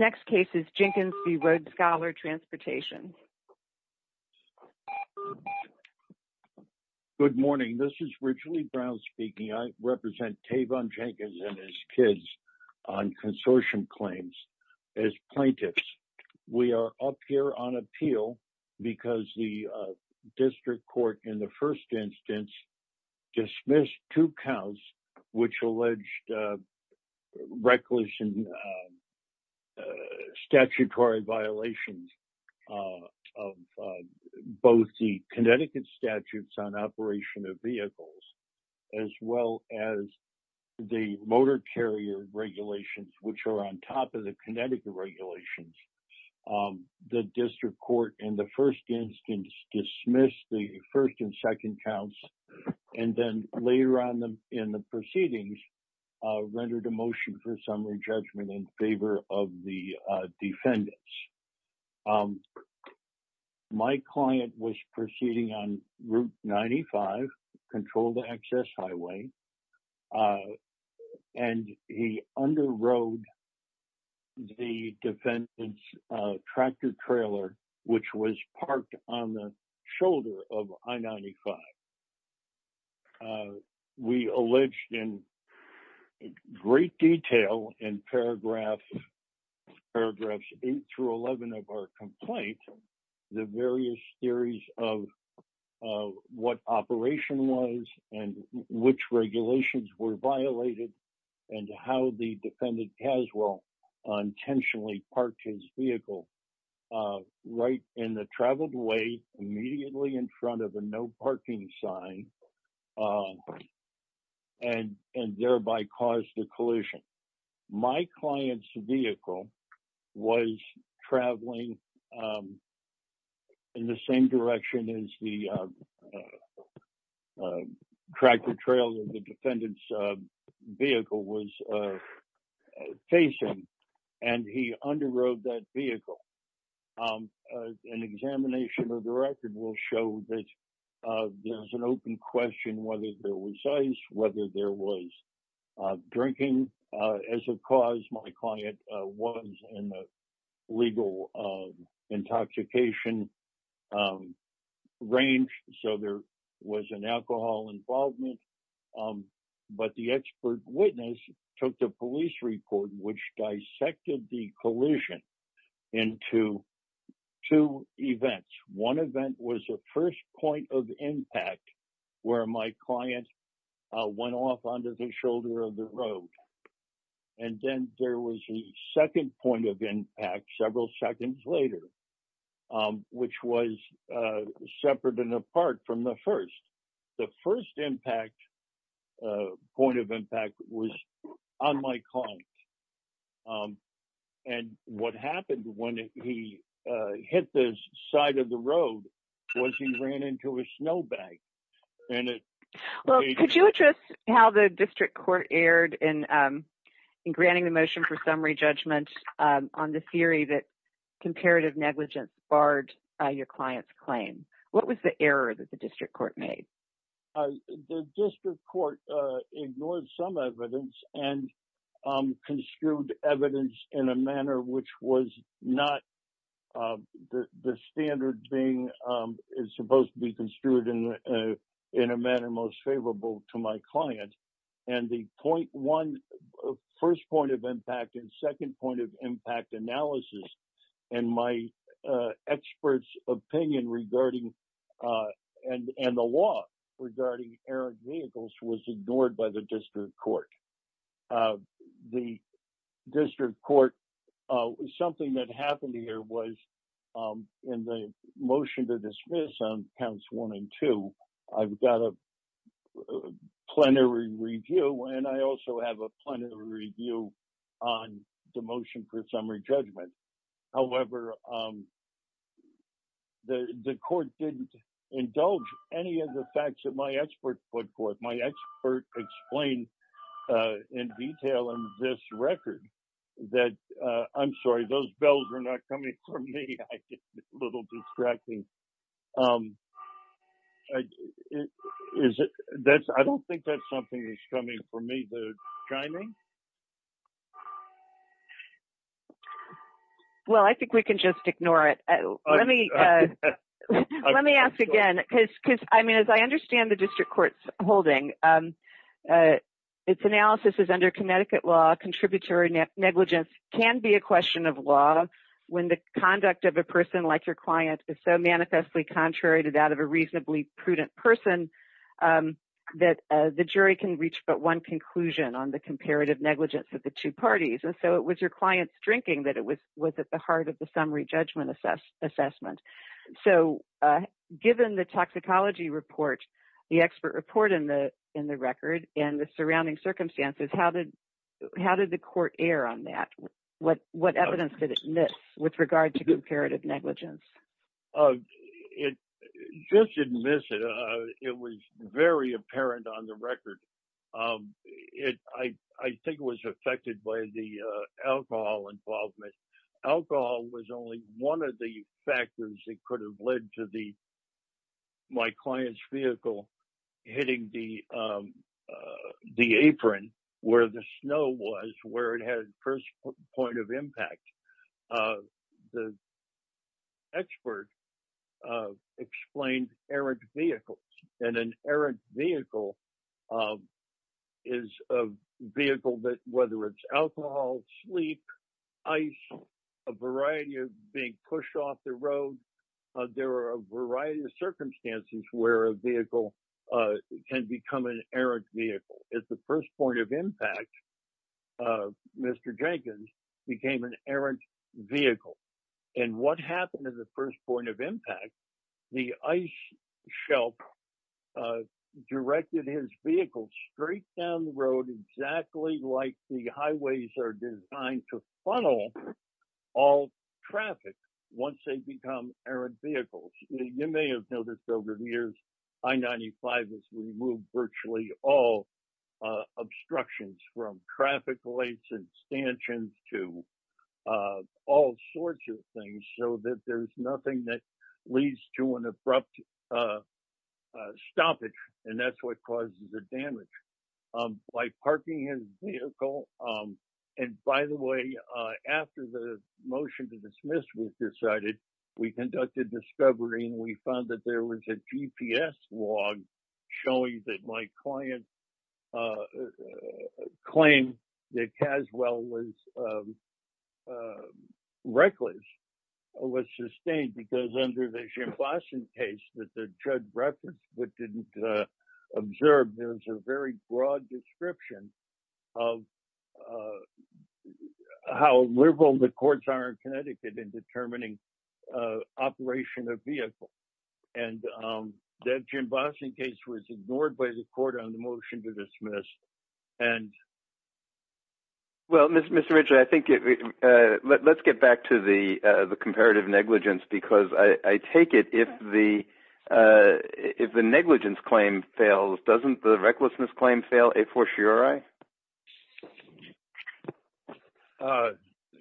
Next case is Jenkins v. Road Scholar Transportation. Good morning, this is Richley Brown speaking. I represent Tayvon Jenkins and his kids on consortium claims as plaintiffs. We are up here on appeal because the district court in the first instance dismissed two counts which alleged reckless and statutory violations of both the Connecticut statutes on operation of vehicles as well as the motor carrier regulations which are on top of the Connecticut regulations. The district court in the first instance dismissed the first and second counts and then later on in the proceedings rendered a motion for summary judgment in favor of the defendants. My client was proceeding on Route 95, controlled access highway, and he under rode the defendant's tractor trailer which was parked on the shoulder of I-95. We alleged in great detail in paragraphs 8 through 11 of our complaint the various theories of what operation was and which regulations were violated and how the defendant has well intentionally parked his vehicle right in the traveled way immediately in front of a no parking sign and thereby caused the collision. My client's vehicle was traveling in the same direction as the tractor trailer the defendant's vehicle was facing and he under rode that vehicle. An examination of the record will show that there's an open question whether there was ice, whether there was drinking. As a cause, my client was in the legal intoxication range, so there was an alcohol involvement, but the expert witness took the police report which dissected the collision into two events. One event was the first point of impact where my client went off onto the shoulder of the road, and then there was a second point of impact several seconds later, which was separate and apart from the first. The first point of impact was on my client, and what happened when he hit the side of the road was he ran into a snowbank. And it- Well, could you address how the district court erred in granting the motion for summary judgment on the theory that comparative negligence barred your client's claim? What was the error that the district court made? The district court ignored some evidence and construed evidence in a manner which was not- the standard being is supposed to be construed in a manner most favorable to my client. And the point one, first point of impact and second point of impact analysis and my expert's opinion regarding- and the law regarding errant vehicles was ignored by the district court. The district court- Something that happened here was in the motion to dismiss on counts one and two, I've got a plenary review, and I also have a plenary review on the motion for summary judgment. However, the court didn't indulge any of the facts that my expert put forth. My expert explained in detail in this record that- I'm sorry, those bells are not coming for me. I get a little distracting. I don't think that's something that's coming for me. The chiming? Well, I think we can just ignore it. Let me ask again, because I mean, as I understand the district court's holding, its analysis is under Connecticut law, contributory negligence can be a question of law when the conduct of a person like your client is so manifestly contrary to that of a reasonably prudent person that the jury can reach but one conclusion on the comparative negligence of the two parties. And so it was your client's drinking that it was at the heart of the summary judgment assessment. So given the toxicology report, the expert report in the record and the surrounding circumstances, how did the court err on that? What evidence did it miss with regard to comparative negligence? It just didn't miss it. It was very apparent on the record. I think it was affected by the alcohol involvement. Alcohol was only one of the factors that could have led to my client's vehicle hitting the apron where the snow was, where it had first point of impact. The expert explained errant vehicles and an errant vehicle is a vehicle that whether it's alcohol, sleep, ice, a variety of being pushed off the road, there are a variety of circumstances where a vehicle can become an errant vehicle. It's the first point of impact, Mr. Jenkins became an errant vehicle. And what happened to the first point of impact? The ice shelf directed his vehicle straight down the road exactly like the highways are designed to funnel all traffic once they become errant vehicles. You may have noticed over the years, I-95 has removed virtually all obstructions from traffic lights and stanchions to all sorts of things so that there's nothing that leads to an abrupt stoppage. And that's what causes the damage. By parking his vehicle, and by the way, after the motion to dismiss was decided, we conducted discovery and we found that there was a GPS log showing that my client claim that Caswell was reckless was sustained because under the Jim Boston case that the judge referenced but didn't observe, there's a very broad description of how liberal the courts are in Connecticut in determining operation of vehicles. And that Jim Boston case was ignored by the court on the motion to dismiss. And- Well, Mr. Richard, I think let's get back to the comparative negligence, because I take it if the negligence claim fails, doesn't the recklessness claim fail a fortiori?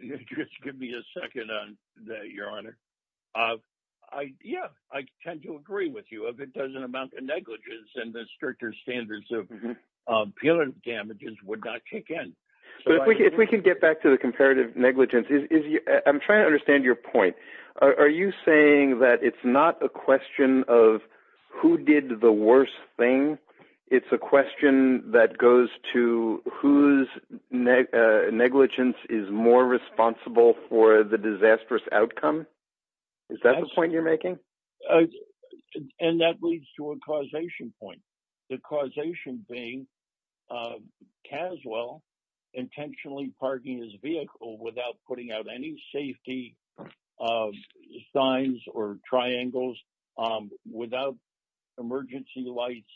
Just give me a second on that, Your Honor. Yeah, I tend to agree with you. If it doesn't amount to negligence and the stricter standards of appeal and damages would not kick in. So if we can get back to the comparative negligence, I'm trying to understand your point. Are you saying that it's not a question of who did the worst thing? It's a question that goes to whose negligence Is that the point you're making? Yeah, and that leads to a causation point. The causation being Caswell intentionally parking his vehicle without putting out any safety signs or triangles without emergency lights.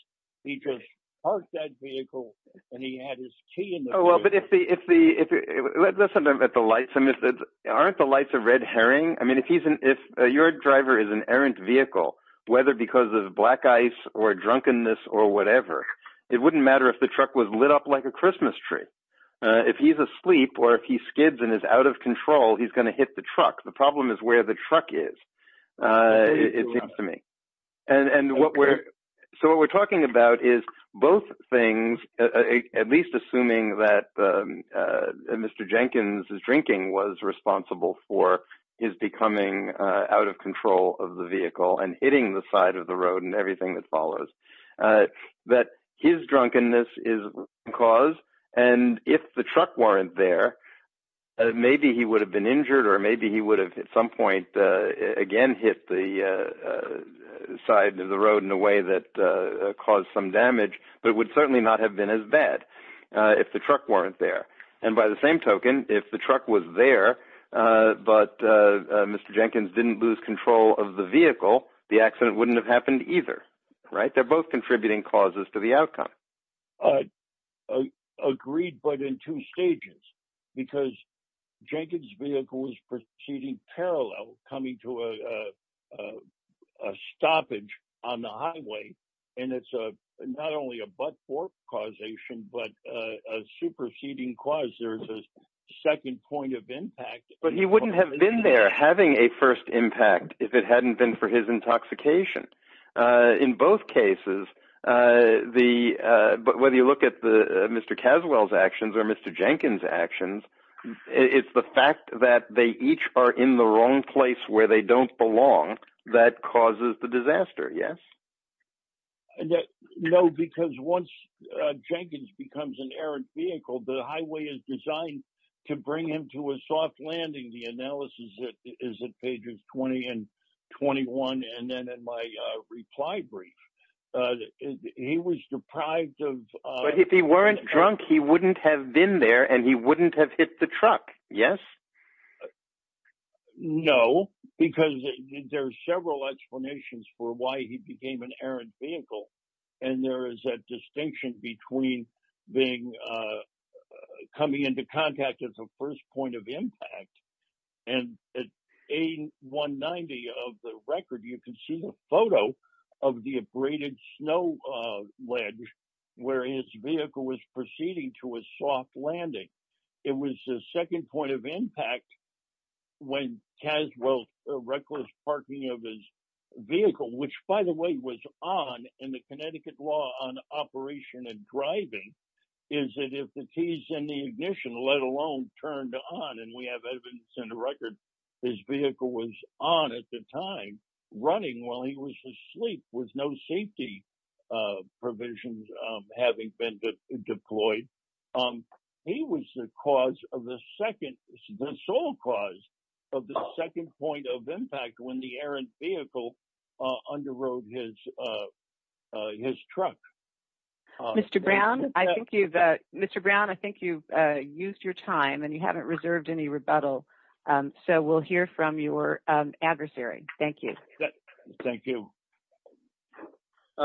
He just parked that vehicle and he had his key in the- Oh, well, but if the, let's talk about the lights. Aren't the lights a red herring? I mean, if your driver is an errant vehicle, whether because of black ice or drunkenness or whatever, it wouldn't matter if the truck was lit up like a Christmas tree. If he's asleep or if he skids and is out of control, he's gonna hit the truck. The problem is where the truck is, it seems to me. And so what we're talking about is both things, at least assuming that Mr. Jenkins' drinking was responsible for his becoming out of control of the vehicle and hitting the side of the road and everything that follows, that his drunkenness is the cause. And if the truck weren't there, maybe he would have been injured or maybe he would have at some point again, hit the side of the road in a way that caused some damage, but it would certainly not have been as bad if the truck weren't there. And by the same token, if the truck was there, but Mr. Jenkins didn't lose control of the vehicle, the accident wouldn't have happened either, right? They're both contributing causes to the outcome. Agreed, but in two stages, because Jenkins' vehicle was proceeding parallel, coming to a stoppage on the highway. And it's not only a butt fork causation, but a superseding cause, there's a second point of impact. But he wouldn't have been there having a first impact if it hadn't been for his intoxication. In both cases, but whether you look at the Mr. Caswell's actions or Mr. Jenkins' actions, it's the fact that they each are in the wrong place where they don't belong that causes the disaster, yes? No, because once Jenkins becomes an errant vehicle, the highway is designed to bring him to a soft landing. The analysis is at pages 20 and 21. And then in my reply brief, he was deprived of- But if he weren't drunk, he wouldn't have been there and he wouldn't have hit the truck, yes? No, because there are several explanations for why he became an errant vehicle. And there is a distinction between coming into contact as a first point of impact. And at A190 of the record, you can see the photo of the abraded snow ledge where his vehicle was proceeding to a soft landing. It was the second point of impact when Caswell's reckless parking of his vehicle, which by the way, was on in the Connecticut law on operation and driving, is that if the keys in the ignition let alone turned on, and we have evidence in the record, his vehicle was on at the time, running while he was asleep with no safety provisions having been deployed. He was the cause of the second, the sole cause of the second point of impact when the errant vehicle underrode his truck. Mr. Brown, I think you've used your time and you haven't reserved any rebuttal. So we'll hear from your adversary. Thank you. Thank you.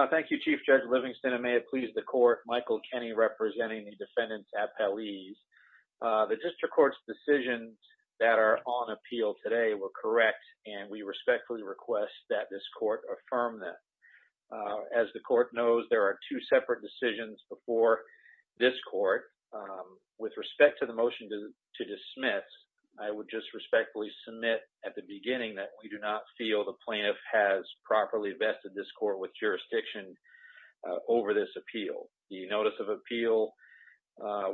Thank you, Chief Judge Livingston. It may have pleased the court, Michael Kenney representing the defendant's appellees. The district court's decisions that are on appeal today were correct, and we respectfully request that this court affirm them. As the court knows, there are two separate decisions before this court. With respect to the motion to dismiss, I would just respectfully submit at the beginning that we do not feel the plaintiff has properly vested this court with jurisdiction over this appeal. The notice of appeal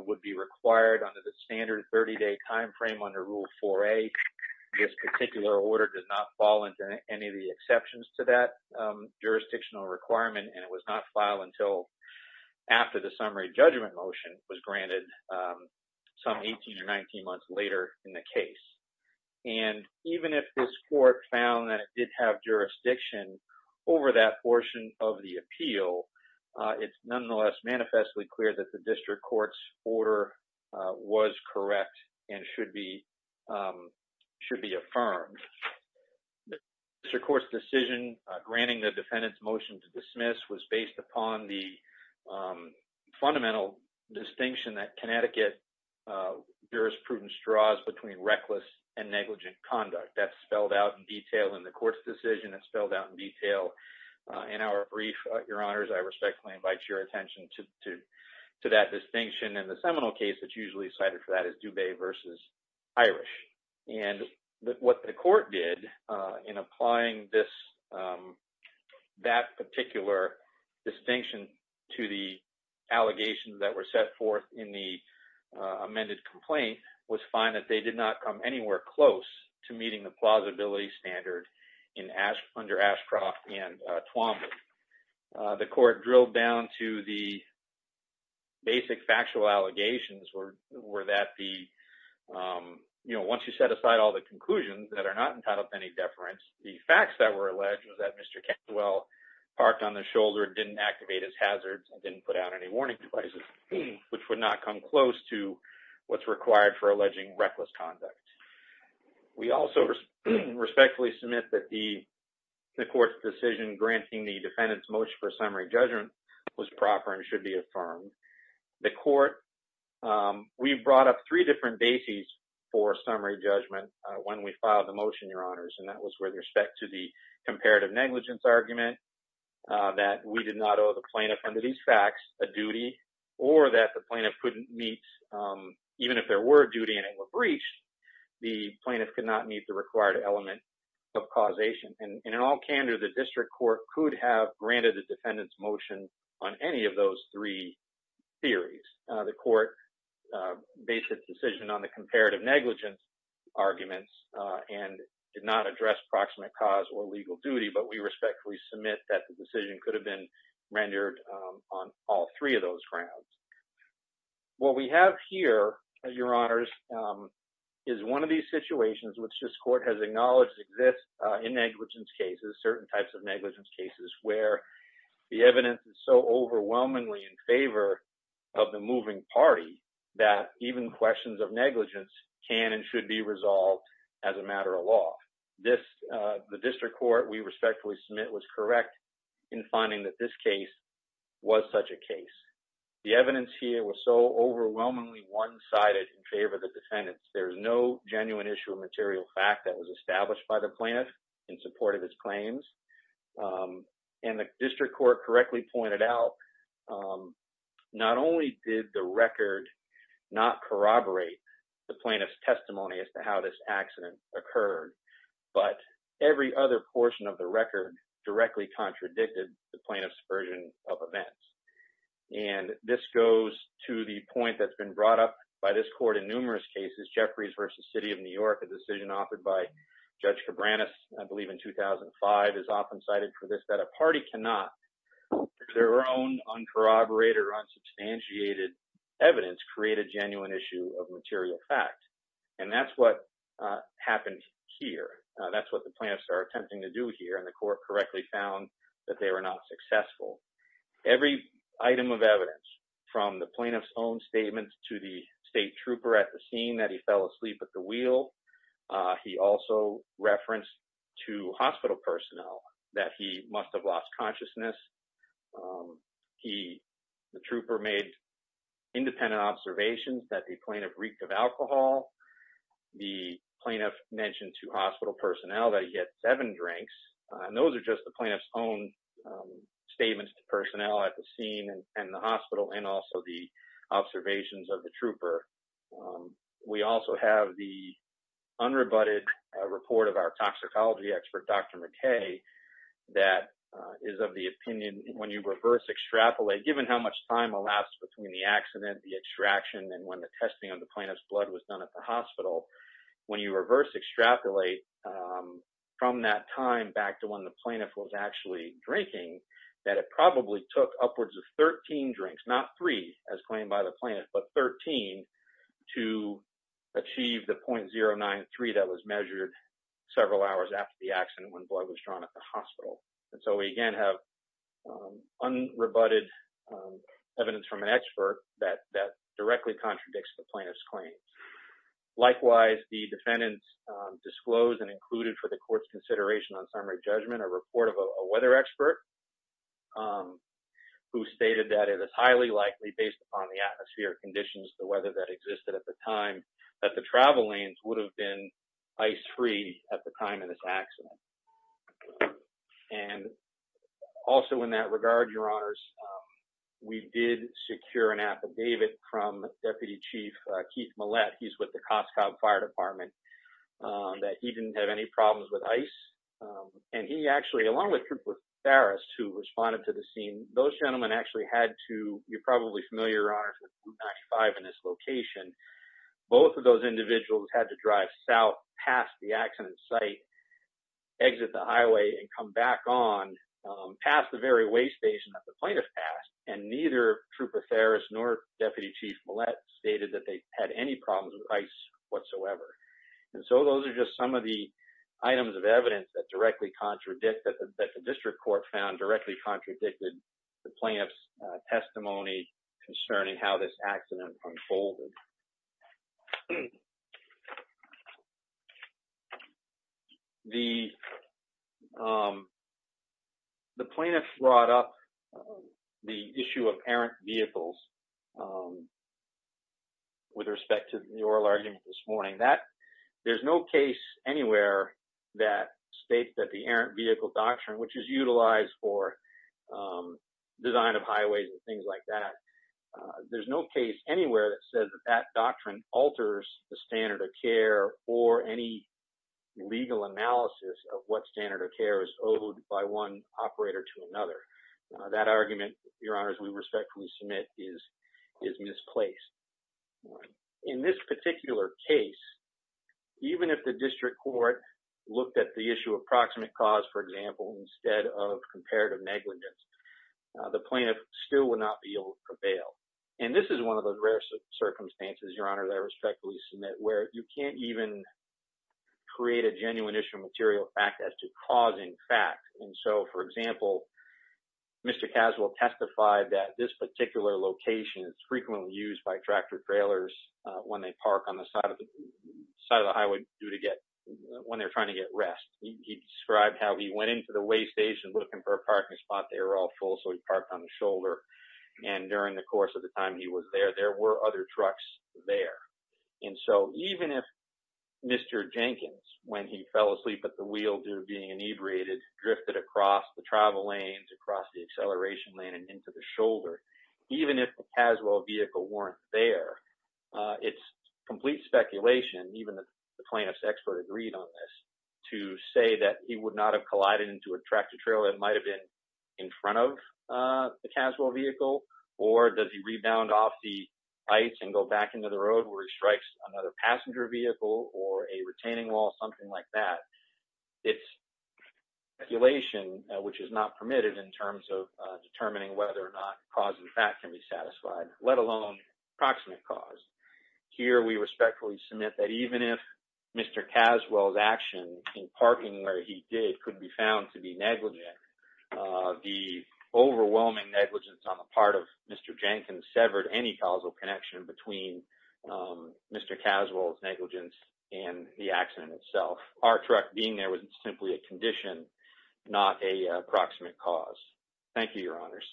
would be required under the standard 30-day timeframe under Rule 4A. This particular order does not fall into any of the exceptions to that jurisdictional requirement, and it was not filed until after the summary judgment motion was granted some 18 or 19 months later in the case. And even if this court found that it did have jurisdiction over that portion of the appeal, it's nonetheless manifestly clear that the district court's order was correct and should be affirmed. District court's decision granting the defendant's motion to dismiss was based upon the fundamental distinction that Connecticut jurisprudence draws between reckless and negligent conduct. That's spelled out in detail in the court's decision. It's spelled out in detail in our brief, Your Honors, I respectfully invite your attention to that distinction. And the seminal case that's usually cited for that is Dubé versus Irish. And what the court did in applying that particular distinction to the allegations that were set forth in the amended complaint was find that they did not come anywhere close to meeting the plausibility standard under Ashcroft and Twombly. The court drilled down to the basic factual allegations were that the, you know, once you set aside all the conclusions that are not entitled to any deference, the facts that were alleged was that Mr. Cantwell parked on the shoulder, didn't activate his hazards, and didn't put out any warning devices, which would not come close to what's required for alleging reckless conduct. We also respectfully submit that the court's decision granting the defendant's motion for summary judgment was proper and should be affirmed. The court, we brought up three different bases for summary judgment when we filed the motion, Your Honors, and that was with respect to the comparative negligence argument, that we did not owe the plaintiff under these facts a duty, or that the plaintiff couldn't meet, even if there were a duty and it were breached, the plaintiff could not meet the required element of causation. And in all candor, the district court could have granted the defendant's motion on any of those three theories. The court based its decision on the comparative negligence arguments and did not address proximate cause or legal duty, but we respectfully submit that the decision could have been rendered on all three of those grounds. What we have here, Your Honors, is one of these situations which this court has acknowledged exists in negligence cases, certain types of negligence cases, where the evidence is so overwhelmingly in favor of the moving party that even questions of negligence can and should be resolved as a matter of law. The district court, we respectfully submit, was correct in finding that this case was such a case. The evidence here was so overwhelmingly one-sided in favor of the defendants. There's no genuine issue of material fact that was established by the plaintiff in support of his claims. And the district court correctly pointed out not only did the record not corroborate the plaintiff's testimony as to how this accident occurred, but every other portion of the record directly contradicted the plaintiff's version of events. And this goes to the point that's been brought up by this court in numerous cases, Jeffries v. City of New York, a decision offered by Judge Cabranes, I believe in 2005, is often cited for this, that a party cannot, their own uncorroborated or unsubstantiated evidence, create a genuine issue of material fact. And that's what happened here. That's what the plaintiffs are attempting to do here, and the court correctly found that they were not successful. Every item of evidence, from the plaintiff's own statements to the state trooper at the scene that he fell asleep at the wheel, he also referenced to hospital personnel that he must have lost consciousness. The trooper made independent observations that the plaintiff reeked of alcohol. The plaintiff mentioned to hospital personnel that he had seven drinks, and those are just the plaintiff's own statements to personnel at the scene and the hospital, and also the observations of the trooper we also have the unrebutted report of our toxicology expert, Dr. McKay, that is of the opinion, when you reverse extrapolate, given how much time elapsed between the accident, the extraction, and when the testing of the plaintiff's blood was done at the hospital, when you reverse extrapolate from that time back to when the plaintiff was actually drinking, that it probably took upwards of 13 drinks, not three, as claimed by the plaintiff, but 13 to achieve the 0.093 that was measured several hours after the accident when blood was drawn at the hospital. And so we again have unrebutted evidence from an expert that directly contradicts the plaintiff's claims. Likewise, the defendants disclosed and included for the court's consideration on summary judgment a report of a weather expert who stated that it is highly likely based upon the atmosphere conditions, the weather that existed at the time, that the travel lanes would have been ice-free at the time of this accident. And also in that regard, your honors, we did secure an affidavit from Deputy Chief Keith Mallette, he's with the Costco Fire Department, that he didn't have any problems with ice. And he actually, along with Trooper Farris, who responded to the scene, those gentlemen actually had to, you're probably familiar, your honors, with Blue Match 5 in this location. Both of those individuals had to drive south past the accident site, exit the highway, and come back on past the very way station that the plaintiff passed, and neither Trooper Farris nor Deputy Chief Mallette stated that they had any problems with ice whatsoever. And so those are just some of the items of evidence that directly contradict, that the district court found directly contradicted the plaintiff's testimony concerning how this accident unfolded. The plaintiff brought up the issue of errant vehicles with respect to the oral argument this morning. There's no case anywhere that states that the errant vehicle doctrine, which is utilized for design of highways and things like that, there's no case anywhere that says that that doctrine alters the standard of care or any legal analysis of what standard of care is owed by one operator to another. That argument, your honors, we respectfully submit is misplaced. In this particular case, even if the district court looked at the issue of proximate cause, for example, instead of comparative negligence, the plaintiff still would not be able to prevail. And this is one of those rare circumstances, your honor, that I respectfully submit, where you can't even create a genuine issue of material fact as to cause in fact. And so, for example, Mr. Caswell testified that this particular location is frequently used by tractor trailers when they park on the side of the highway when they're trying to get rest. He described how he went into the weigh station looking for a parking spot. They were all full, so he parked on the shoulder. And during the course of the time he was there, there were other trucks there. And so even if Mr. Jenkins, when he fell asleep at the wheel due to being inebriated, drifted across the travel lanes, across the acceleration lane and into the shoulder, even if the Caswell vehicle weren't there, it's complete speculation, even if the plaintiff's expert agreed on this, to say that he would not have collided into a tractor trailer that might've been in front of the Caswell vehicle, or does he rebound off the ice and go back into the road where he strikes another passenger vehicle or a retaining wall, something like that. It's speculation, which is not permitted in terms of determining whether or not cause in fact can be satisfied, let alone proximate cause. Here, we respectfully submit that even if Mr. Caswell's action in parking where he did could be found to be negligent, the overwhelming negligence on the part of Mr. Jenkins severed any causal connection between Mr. Caswell's negligence and the accident itself. Our truck being there was simply a condition, not a proximate cause. Thank you, your honors.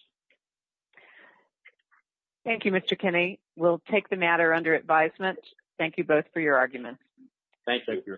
Thank you, Mr. Kinney. We'll take the matter under advisement. Thank you both for your arguments. Thank you.